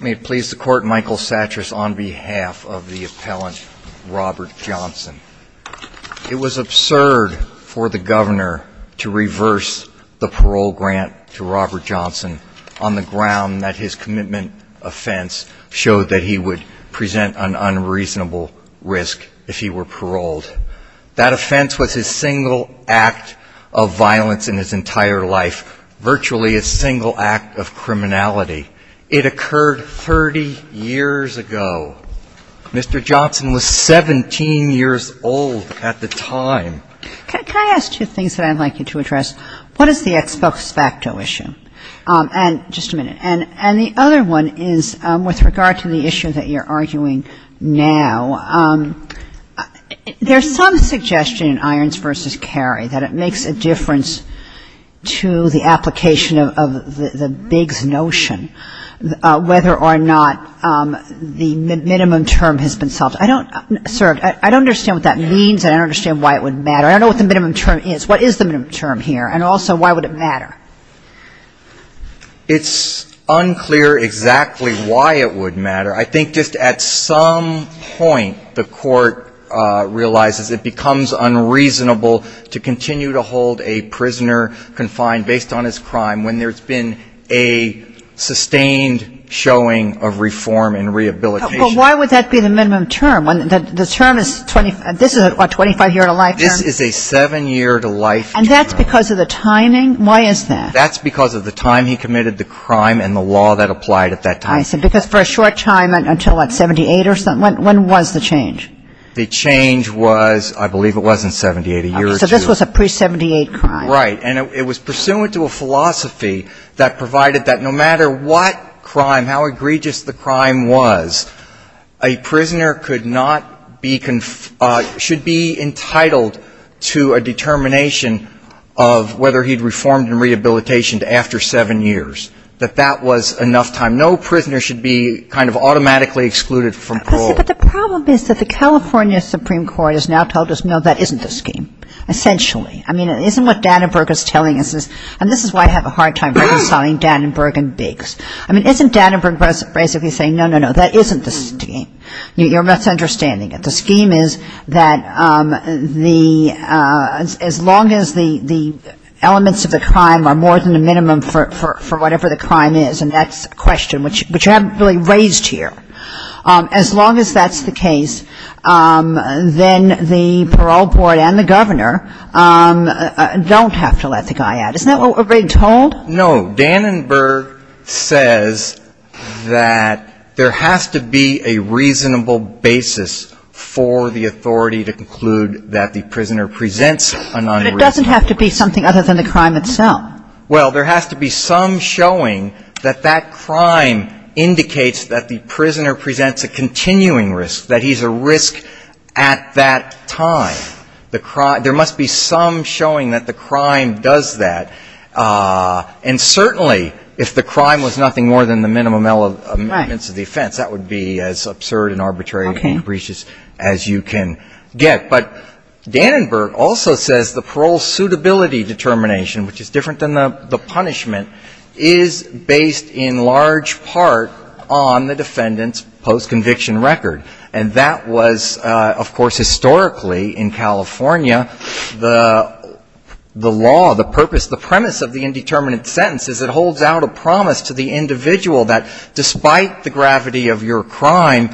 May it please the court, Michael Satras on behalf of the appellant Robert Johnson. It was absurd for the governor to reverse the parole grant to Robert Johnson on the ground that his commitment offense showed that he would present an unreasonable risk if he were virtually a single act of criminality. It occurred 30 years ago. Mr. Johnson was 17 years old at the time. Can I ask two things that I'd like you to address? What is the ex post facto issue? And just a minute. And the other one is with regard to the issue that you're arguing now, there's some suggestion in Irons v. Carey that it makes a difference if a person is convicted of a crime, but it doesn't make a difference if they're convicted of a crime. It's unclear exactly why it would matter. I think just at some point the court realizes it becomes unreasonable to continue to hold a prisoner confined based on his crime when there's been a sustained showing of reform and rehabilitation. But why would that be the minimum term? This is a 25-year-to-life term? This is a seven-year-to-life term. And that's because of the timing? Why is that? That's because of the time he committed the crime and the law that applied at that time. I see. Because for a short time, until what, 78 or something, when was the change? The change was, I believe it was in 78, a year or two. So this was a pre-78 crime. Right. And it was pursuant to a philosophy that provided that no matter what crime, how egregious the crime was, a prisoner could not be, should be entitled to a determination of whether he'd reformed and rehabilitated after seven years, that that was enough time. No prisoner should be kind of automatically excluded from parole. But the problem is that the California Supreme Court has now told us, no, that isn't the scheme, essentially. I mean, isn't what Dannenberg is telling us, and this is why I have a hard time reconciling Dannenberg and Biggs. I mean, isn't Dannenberg basically saying, no, no, no, that isn't the scheme? You're misunderstanding it. The scheme is that as long as the elements of the crime are more than the minimum for whatever the crime is, and that's a question which you haven't really raised here, as long as that's the case, then the parole board and the governor don't have to let the guy out. Isn't that what we're being told? No. Dannenberg says that there has to be a reasonable basis for the authority to conclude that the prisoner presents a non-reasonable crime. But it doesn't have to be something other than the crime itself. Well, there has to be some showing that that crime indicates that the prisoner presents a continuing risk, that he's a risk at that time. There must be some showing that the crime does that. And certainly, if the crime was nothing more than the minimum elements of the offense, that would be as absurd and arbitrary and capricious as you can get. But Dannenberg also says the parole suitability determination, which is different than the punishment, is based in large part on the defendant's post-conviction record. And that was, of course, historically in California. The law, the purpose, the premise of the indeterminate sentence is it holds out a promise to the individual that despite the gravity of your crime,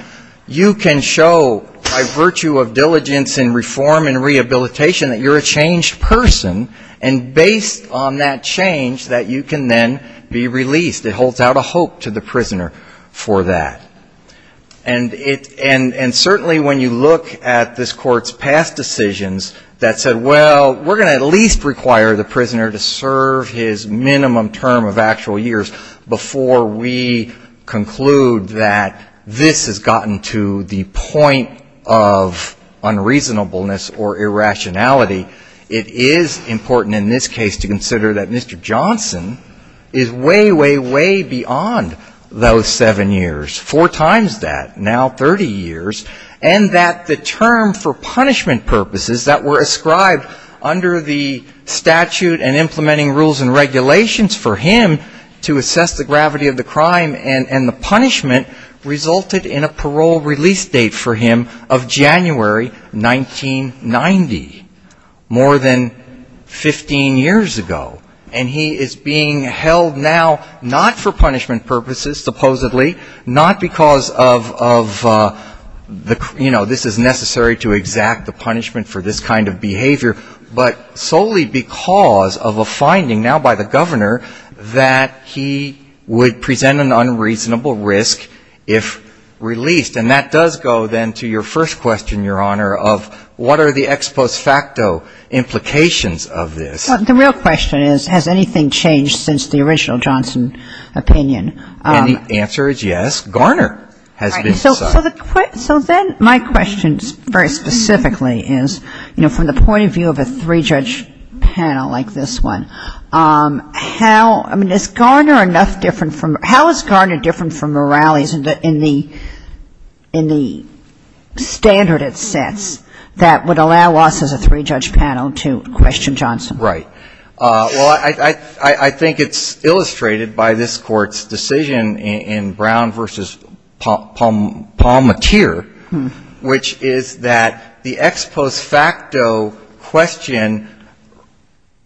you can show by virtue of diligence and reform and rehabilitation that you're a changed person. And based on that change, that you can then be released. It holds out a hope to the prisoner for that. And certainly when you look at this Court's past decisions that said, well, we're going to at least require the prisoner to serve his minimum term of actual years before we conclude that this has gotten to the point of unreasonableness or irrationality, it is important in this case to consider that Mr. Johnson is way, way, way beyond those seven years. Four times that, now 30 years. And that the term for punishment purposes that were ascribed under the statute and implementing rules and regulations for him to assess the gravity of the crime and the punishment resulted in a parole release date for him of January 1990. More than 15 years ago. And he is being held now not for punishment purposes, supposedly, not because of, you know, this is necessary to exact the punishment for this kind of behavior, but solely because of a finding now by the governor that he would present an unreasonable risk if released. And that does go then to your first question, Your Honor, of what are the ex post facto implications of this? The real question is, has anything changed since the original Johnson opinion? And the answer is yes. Garner has been decided. So then my question very specifically is, you know, from the point of view of a three-judge panel like this one, how, I mean, is Garner enough different from, how is Garner different from Morales in the standard it sets that would allow us as a three-judge panel to question Johnson? Right. Well, I think it's illustrated by this Court's decision in Brown v. Pommetier, which is that the ex post facto question,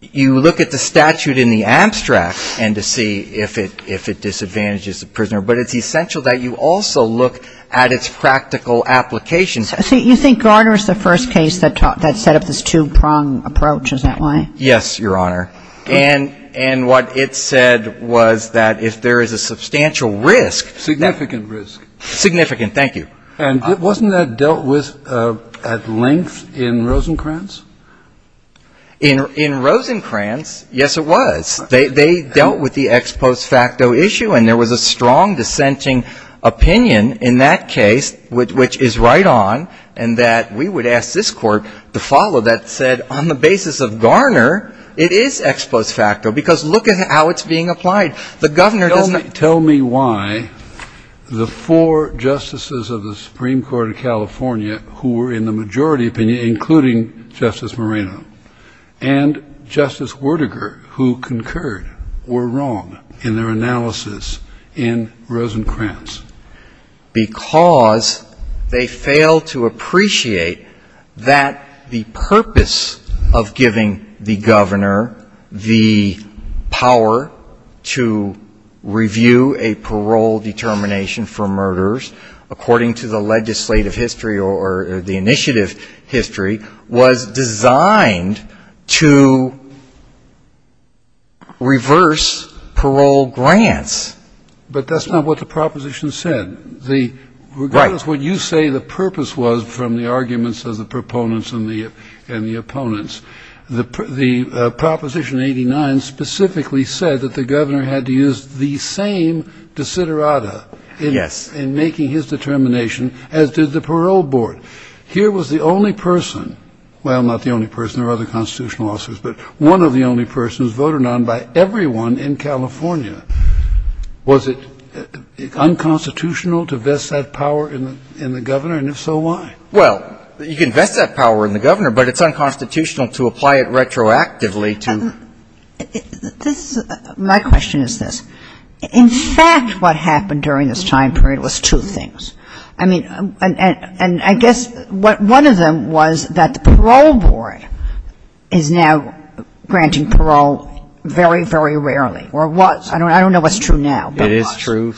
you look at the statute in the abstract and to see if it disadvantages the prisoner, but it's essential that you also look at its practical applications. So you think Garner is the first case that set up this two-prong approach, is that right? Yes, Your Honor. And what it said was that if there is a substantial risk. Significant risk. Significant, thank you. And wasn't that dealt with at length in Rosencrantz? In Rosencrantz, yes, it was. They dealt with the ex post facto issue, and there was a strong dissenting opinion in that case, which is right on, and that we would ask this Court to follow that said on the basis of Garner, it is ex post facto, because look at how it's being applied. The Governor doesn't --" Tell me why the four justices of the Supreme Court of California who were in the majority opinion, including Justice Moreno and Justice Werdegar, who concurred, were wrong in their analysis in Rosencrantz? Because they failed to appreciate that the purpose of giving the Governor the power to review the statute and to do a parole determination for murderers, according to the legislative history or the initiative history, was designed to reverse parole grants. But that's not what the proposition said. Regardless of what you say the purpose was from the arguments of the proponents and the opponents. The proposition 89 specifically said that the Governor had to use the same desiderata in making his determination, as did the parole board. Here was the only person, well, not the only person, there were other constitutional officers, but one of the only persons voted on by everyone in California. Was it unconstitutional to vest that power in the Governor, and if so, why? Well, you can vest that power in the Governor, but it's unconstitutional to apply it retroactively to the parole board. My question is this. In fact, what happened during this time period was two things. I mean, and I guess one of them was that the parole board is now granting parole very, very rarely, or was. I don't know what's true now. It is true.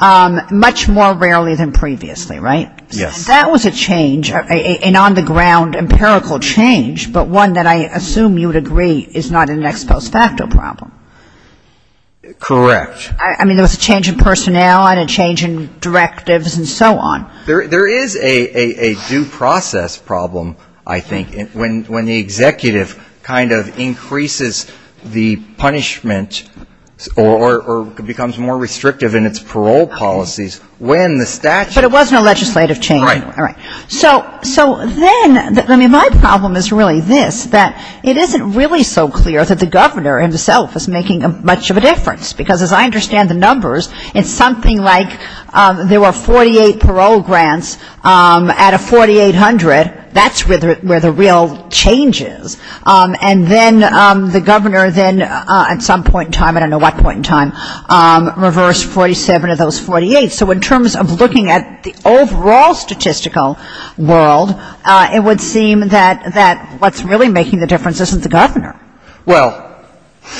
Much more rarely than previously, right? Yes. That was a change, an on-the-ground empirical change, but one that I assume you would agree is not an ex post facto problem. Correct. I mean, there was a change in personnel and a change in directives and so on. There is a due process problem, I think, when the executive kind of increases the punishment, or becomes more restrictive in its parole policies, when the statute. But it wasn't a legislative change. Right. So then, I mean, my problem is really this, that it isn't really so clear that the Governor himself is making much of a difference. Because as I understand the numbers, it's something like there were 48 parole grants out of 4,800. That's where the real change is. And then the Governor then at some point in time, I don't know what point in time, reversed 47 of those 48. So in terms of looking at the overall statistical world, it would seem that what's really making the difference isn't the Governor. Well,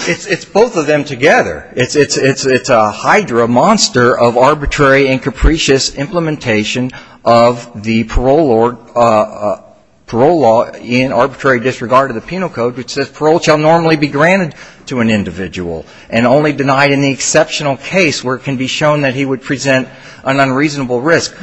it's both of them together. It's a hydra, a monster of arbitrary and capricious implementation of the parole law in arbitrary disregard of the Penal Code, which says parole shall normally be granted to an individual, and only denied in the exceptional case where it can be shown that he would present an unreasonable risk.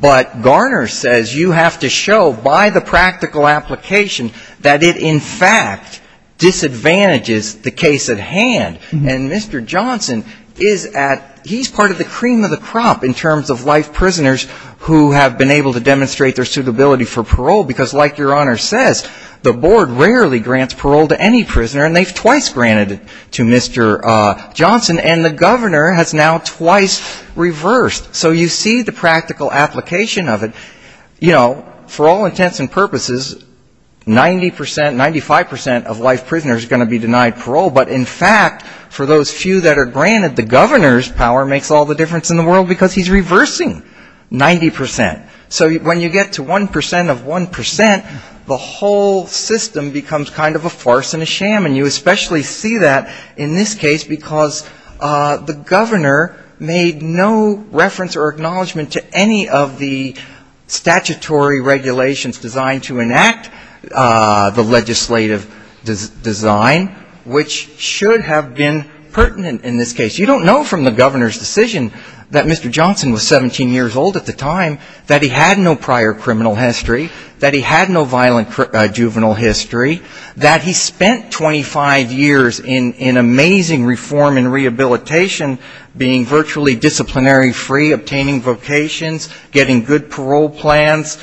But Garner says you have to show by the practical application that it in fact disadvantages the case at hand. And Mr. Johnson is at he's part of the cream of the crop in terms of life prisoners who have been able to demonstrate their suitability for parole. Because like Your Honor says, the board rarely grants parole to any prisoner, and they've twice granted it to Mr. Johnson. And the Governor has now twice reversed. So you see the practical application of it. You know, for all intents and purposes, 90 percent, 95 percent of life prisoners are going to be denied parole. But in fact, for those few that are granted, the Governor's power makes all the difference in the world because he's reversing 90 percent. So when you get to 1 percent of 1 percent, the whole system becomes kind of a farce and a sham. And you especially see that in this case because the Governor made no reference or acknowledgment to any of the statutory regulations designed to enact the legislative design, which should have been pertinent in this case. You don't know from the Governor's decision that Mr. Johnson was 17 years old at the time that he had no prior criminal history, that he had no violent juvenile history, that he spent 27 years in prison. He spent 25 years in amazing reform and rehabilitation, being virtually disciplinary free, obtaining vocations, getting good parole plans,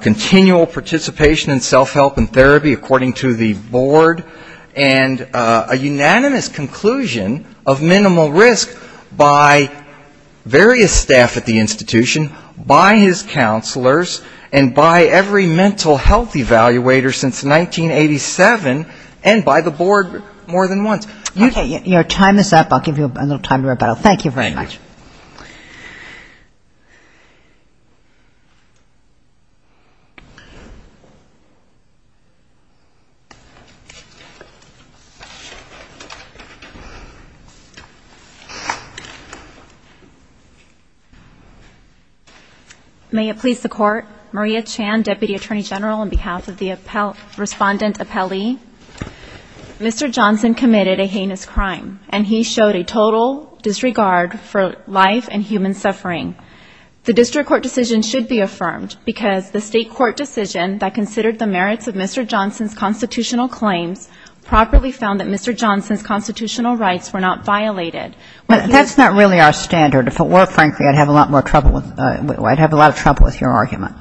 continual participation in self-help and therapy, according to the board. And a unanimous conclusion of minimal risk by various staff at the institution, by his counselors, and by every mental health evaluator since 1987. And by the board more than once. Okay. You know, time this up. I'll give you a little time to wrap it up. Thank you very much. Thank you. May it please the Court. Maria Chan, Deputy Attorney General, on behalf of the Respondent Appellee. Mr. Johnson committed a heinous crime, and he showed a total disregard for life and human suffering. The district court decision should be affirmed because the state court decision that considered the merits of Mr. Johnson's constitutional claims properly found that Mr. Johnson's constitutional rights were not violated. That's not really our standard. If it were, frankly, I'd have a lot of trouble with your argument.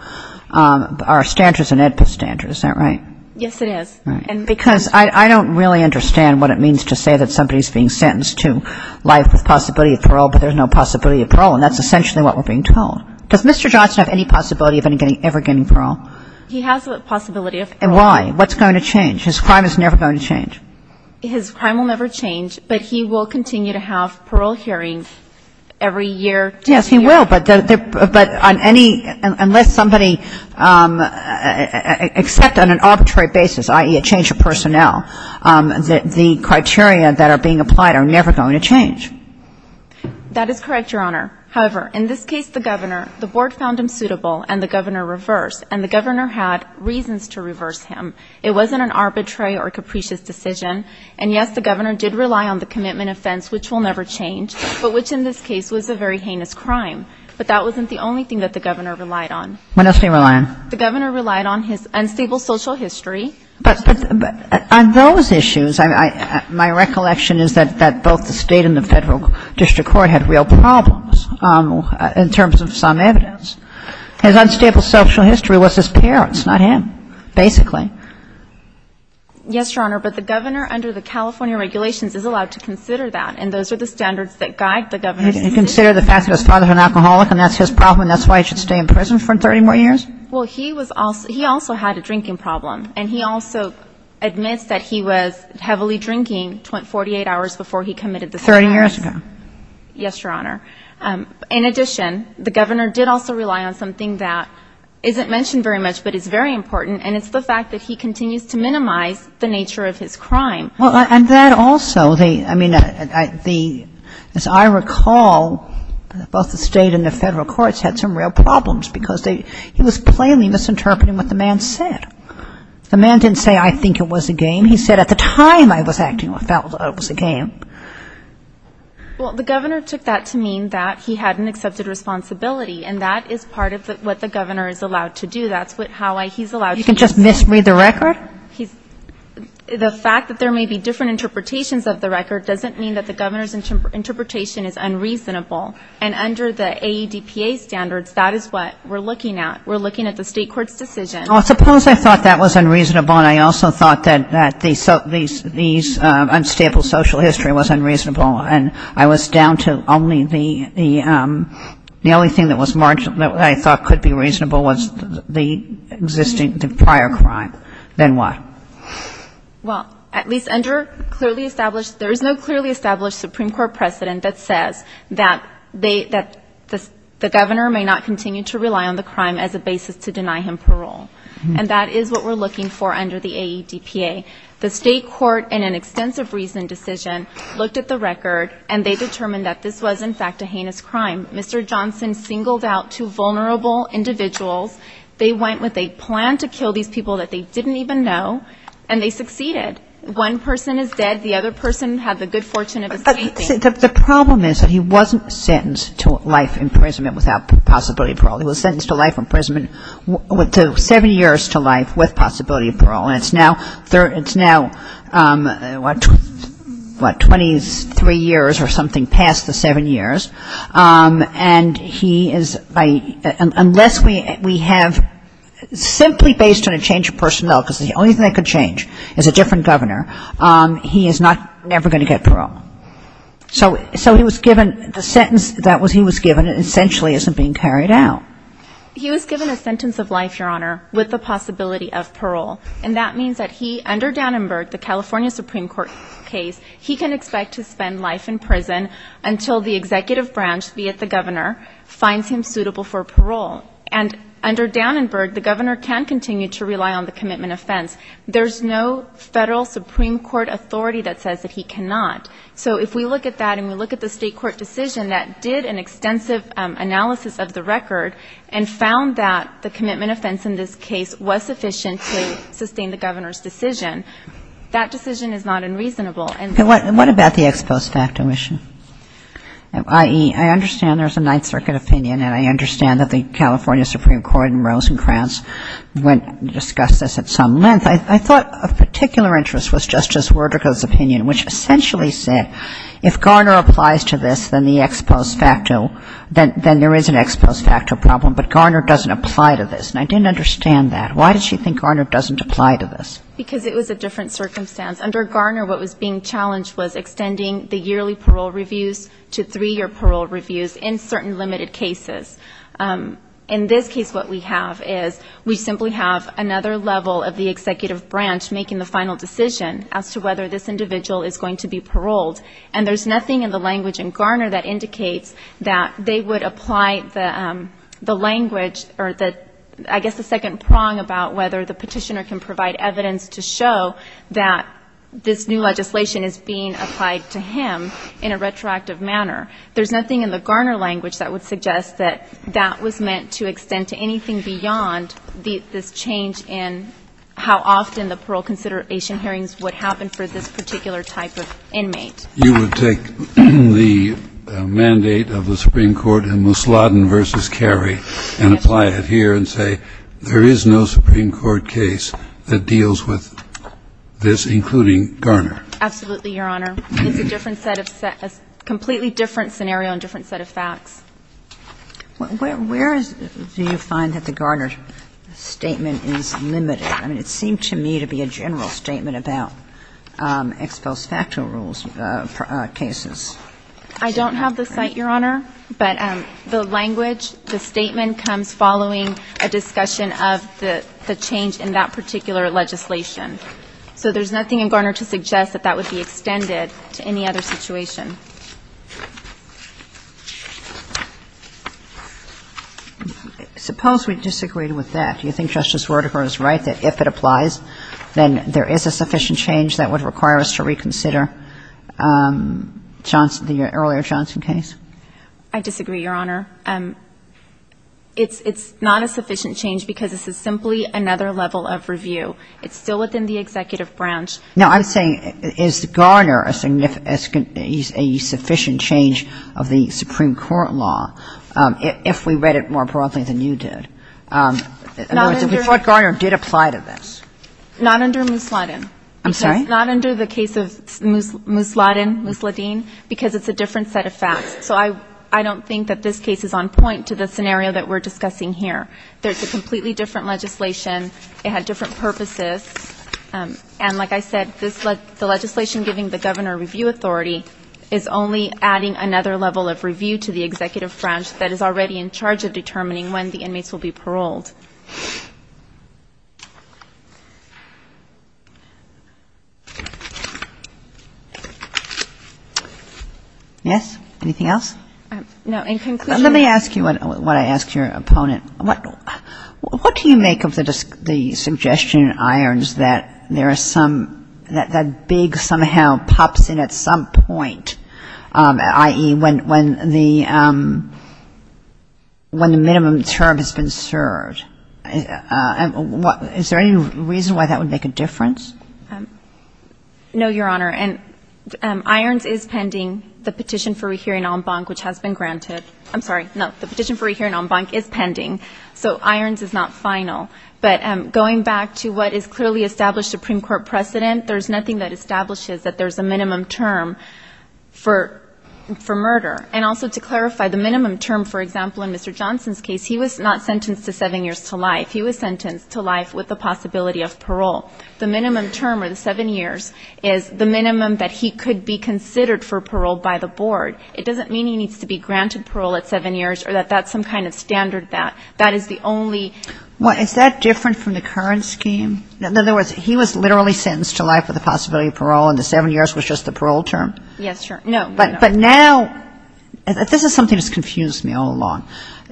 Our standards are standards. Is that right? Yes, it is. Because I don't really understand what it means to say that somebody's being sentenced to life with possibility of parole, but there's no possibility of parole. And that's essentially what we're being told. Does Mr. Johnson have any possibility of ever getting parole? He has the possibility of parole. And why? What's going to change? His crime is never going to change. His crime will never change, but he will continue to have parole hearings every year. Yes, he will, but on any unless somebody, except on an arbitrary basis, i.e., a change of personnel, the criteria that are being applied are never going to change. That is correct, Your Honor. However, in this case, the governor, the board found him suitable, and the governor reversed, and the governor had reasons to reverse him. It wasn't an arbitrary or capricious decision. And, yes, the governor did rely on the commitment offense, which will never change, but which in this case was a very heinous crime. But that wasn't the only thing that the governor relied on. What else did he rely on? The governor relied on his unstable social history. But on those issues, my recollection is that both the State and the Federal District Court had real problems in terms of some evidence. His unstable social history was his parents, not him, basically. Yes, Your Honor, but the governor under the California regulations is allowed to consider that, and those are the standards that guide the governor's decision. He considered the fact that his father was an alcoholic, and that's his problem, and that's why he should stay in prison for 30 more years? Well, he was also he also had a drinking problem, and he also admits that he was heavily drinking 48 hours before he committed the crime. Thirty years ago. Yes, Your Honor. In addition, the governor did also rely on something that isn't mentioned very much but is very important, and it's the fact that he continues to minimize the nature of his crime. Well, and that also, I mean, as I recall, both the State and the Federal Courts had some real problems, because he was plainly misinterpreting what the man said. The man didn't say, I think it was a game. He said, at the time I was acting, it was a game. Well, the governor took that to mean that he hadn't accepted responsibility, and that is part of what the governor is allowed to do. You can just misread the record? The fact that there may be different interpretations of the record doesn't mean that the governor's interpretation is unreasonable. And under the AEDPA standards, that is what we're looking at. We're looking at the State court's decision. Well, suppose I thought that was unreasonable, and I also thought that these unstable social history was unreasonable, and I was down to only the only thing that I thought could be reasonable was the existing prior crime, then what? Well, at least under clearly established, there is no clearly established Supreme Court precedent that says that the governor may not continue to rely on the crime as a basis to deny him parole, and that is what we're looking for under the AEDPA. The State court, in an extensive reasoned decision, looked at the record, and they determined that this was, in fact, a heinous crime. Mr. Johnson singled out two vulnerable individuals. They went with a plan to kill these people that they didn't even know, and they succeeded. One person is dead. The other person had the good fortune of escaping. The problem is that he wasn't sentenced to life imprisonment without possibility of parole. He was sentenced to life imprisonment, seven years to life with possibility of parole. And it's now, what, 23 years or something past the seven years, and he is, unless we have, simply based on a change of personnel, because the only thing that could change is a different governor, he is never going to get parole. So he was given, the sentence that he was given essentially isn't being carried out. He was given a sentence of life, Your Honor, with the possibility of parole. And that means that he, under Dannenberg, the California Supreme Court case, he can expect to spend life in prison until the executive branch, be it the governor, finds him suitable for parole. And under Dannenberg, the governor can continue to rely on the commitment offense. There's no Federal Supreme Court authority that says that he cannot. So if we look at that and we look at the State court decision that did an extensive analysis of the record and found that the commitment offense in this case was sufficient to sustain the governor's decision, that decision is not unreasonable. And what about the ex post facto issue, i.e., I understand there's a Ninth Circuit opinion and I understand that the California Supreme Court in Rosencrantz went and discussed this at some length. I thought of particular interest was Justice Werdicke's opinion, which essentially said if Garner applies to this, then the ex post facto, then there is an ex post facto problem, but Garner doesn't apply to this. And I didn't understand that. Why does she think Garner doesn't apply to this? Because it was a different circumstance. Under Garner, what was being challenged was extending the yearly parole reviews to three-year parole reviews in certain limited cases. In this case, what we have is we simply have another level of the executive branch making the final decision as to whether this individual is going to be paroled. And there's nothing in the language in Garner that indicates that they would apply the language or the, I guess, the second prong about whether the petitioner can provide evidence to show that this new legislation is being applied to him in a retroactive manner. There's nothing in the Garner language that would suggest that that was meant to extend to anything beyond this change in how often the parole consideration hearings would happen for this particular type of inmate. You would take the mandate of the Supreme Court in Musladin v. Carey and apply it here and say, there is no Supreme Court case that deals with this, including Garner. Absolutely, Your Honor. It's a different set of, a completely different scenario and different set of facts. Where do you find that the Garner statement is limited? I mean, it seemed to me to be a general statement about ex post facto rules cases. I don't have the site, Your Honor, but the language, the statement comes following a discussion of the change in that particular legislation. So there's nothing in Garner to suggest that that would be extended to any other situation. Suppose we disagreed with that. Do you think Justice Roediger is right that if it applies, then there is a sufficient change that would require us to reconsider Johnson, the earlier Johnson case? I disagree, Your Honor. It's not a sufficient change because this is simply another level of review. It's still within the executive branch. Now, I'm saying, is Garner a significant, a sufficient change of the Supreme Court law, if we read it more broadly than you did? In other words, if we thought Garner did apply to this? Not under Musladin. I'm sorry? Not under the case of Musladin, Musladin, because it's a different set of facts. So I don't think that this case is on point to the scenario that we're discussing There's a completely different legislation. It had different purposes. And like I said, the legislation giving the governor review authority is only adding another level of review to the executive branch that is already in charge of determining when the inmates will be paroled. Yes? Anything else? No. In conclusion Let me ask you what I asked your opponent. What do you make of the suggestion in Irons that there is some, that big somehow pops in at some point, i.e., when the minimum term has been served? Is there any reason why that would make a difference? No, Your Honor. And Irons is pending the petition for rehearing en banc, which has been granted I'm sorry. No, the petition for rehearing en banc is pending. So Irons is not final. But going back to what is clearly established Supreme Court precedent, there's nothing that establishes that there's a minimum term for murder. And also to clarify, the minimum term, for example, in Mr. Johnson's case, he was not sentenced to seven years to life. He was sentenced to life with the possibility of parole. The minimum term or the seven years is the minimum that he could be considered for parole by the board. It doesn't mean he needs to be granted parole at seven years or that that's some kind of standard that. That is the only one. Is that different from the current scheme? In other words, he was literally sentenced to life with the possibility of parole and the seven years was just the parole term? Yes, Your Honor. No. But now, this is something that's confused me all along.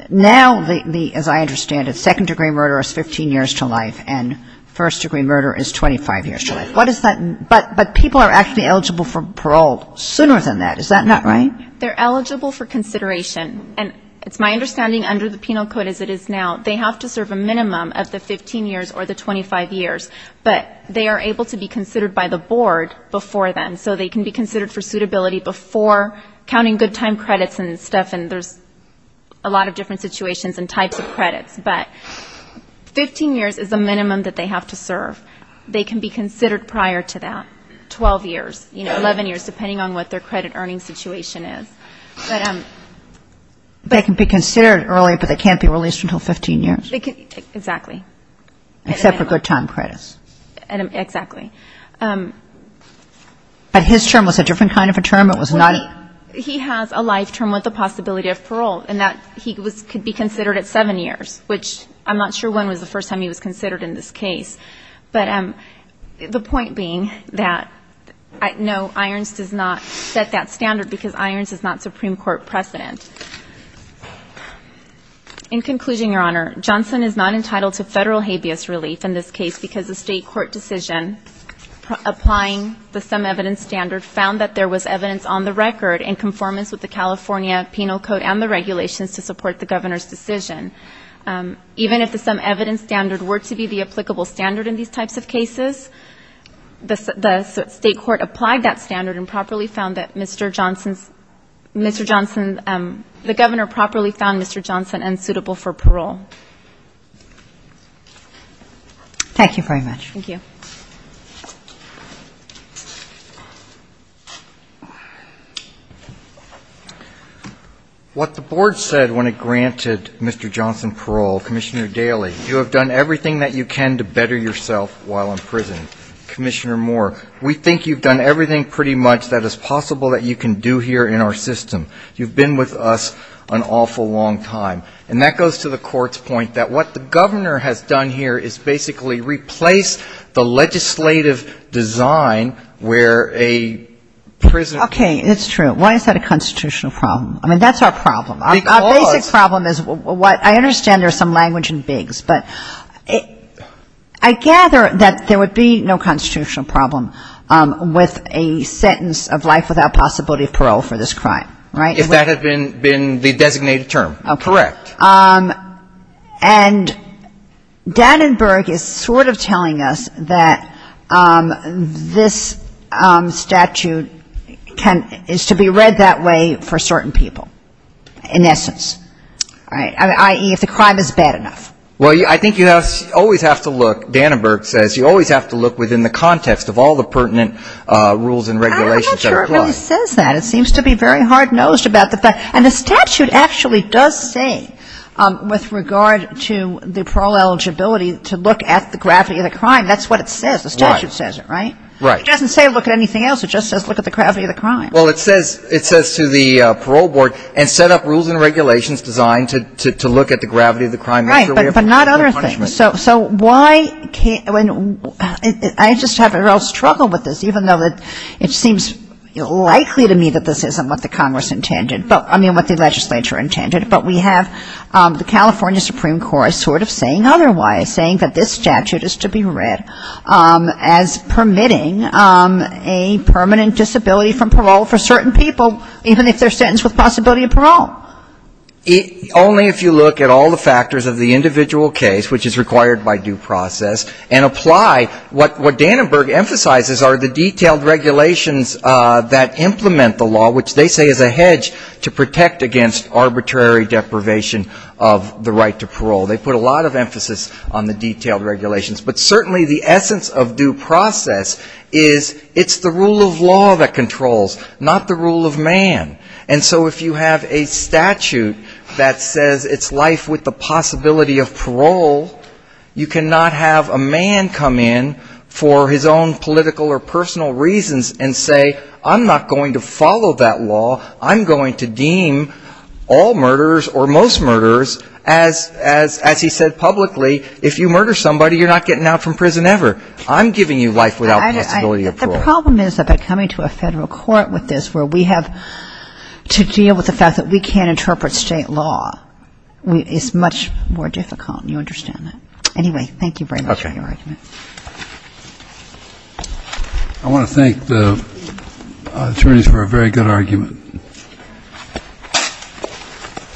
Now, as I understand it, second-degree murder is 15 years to life and first-degree murder is 25 years to life. What is that? But people are actually eligible for parole sooner than that. Is that not right? They're eligible for consideration. And it's my understanding under the penal code as it is now, they have to serve a minimum of the 15 years or the 25 years. But they are able to be considered by the board before then. So they can be considered for suitability before counting good time credits and stuff, and there's a lot of different situations and types of credits. But 15 years is the minimum that they have to serve. They can be considered prior to that, 12 years, 11 years, depending on what their credit earning situation is. They can be considered earlier, but they can't be released until 15 years? Exactly. Except for good time credits. Exactly. But his term was a different kind of a term? It was not a ---- He has a life term with the possibility of parole in that he could be considered at seven years, which I'm not sure when was the first time he was considered in this case. But the point being that, no, Irons does not set that standard because Irons is not Supreme Court precedent. In conclusion, Your Honor, Johnson is not entitled to federal habeas relief in this case because the state court decision applying the some evidence standard found that there was evidence on the record in conformance with the California penal code and the regulations to support the governor's decision. Even if the some evidence standard were to be the applicable standard in these types of cases, the state court applied that standard and properly found that Mr. Johnson's ---- Mr. Johnson, the governor properly found Mr. Johnson unsuitable for parole. Thank you very much. Thank you. Thank you. What the board said when it granted Mr. Johnson parole, Commissioner Daly, you have done everything that you can to better yourself while in prison. Commissioner Moore, we think you've done everything pretty much that is possible that you can do here in our system. You've been with us an awful long time. And that goes to the court's point that what the governor has done here is basically replaced the legislative design where a prisoner ---- Okay. It's true. Why is that a constitutional problem? I mean, that's our problem. Because ---- Our basic problem is what ---- I understand there's some language in bigs, but I gather that there would be no constitutional problem with a sentence of life without possibility of parole for this crime, right? If that had been the designated term. Correct. And Dannenberg is sort of telling us that this statute is to be read that way for certain people, in essence, i.e., if the crime is bad enough. Well, I think you always have to look, Dannenberg says, you always have to look within the context of all the pertinent rules and regulations that are in place. I'm not sure it really says that. It seems to be very hard-nosed about the fact ---- And the statute actually does say, with regard to the parole eligibility, to look at the gravity of the crime. That's what it says. The statute says it, right? Right. It doesn't say look at anything else. It just says look at the gravity of the crime. Well, it says to the parole board, and set up rules and regulations designed to look at the gravity of the crime as a way of punishment. Right. But not other things. So why can't ---- I just have a real struggle with this, even though it seems likely to me that this isn't what the Congress intended. I mean, what the legislature intended. But we have the California Supreme Court sort of saying otherwise, saying that this statute is to be read as permitting a permanent disability from parole for certain people, even if they're sentenced with possibility of parole. Only if you look at all the factors of the individual case, which is required by due process, and apply what Dannenberg emphasizes are the detailed regulations that implement the law, which they say is a hedge to protect against arbitrary deprivation of the right to parole. They put a lot of emphasis on the detailed regulations. But certainly the essence of due process is it's the rule of law that controls, not the rule of man. And so if you have a statute that says it's life with the possibility of parole, you cannot have a man come in for his own political or personal reasons and say I'm not going to follow that law, I'm going to deem all murderers or most murderers, as he said publicly, if you murder somebody, you're not getting out from prison ever. I'm giving you life without possibility of parole. The problem is that by coming to a federal court with this, where we have to deal with the fact that we can't interpret state law, it's much more difficult. You understand that. Anyway, thank you very much for your argument. Okay. I want to thank the attorneys for a very good argument.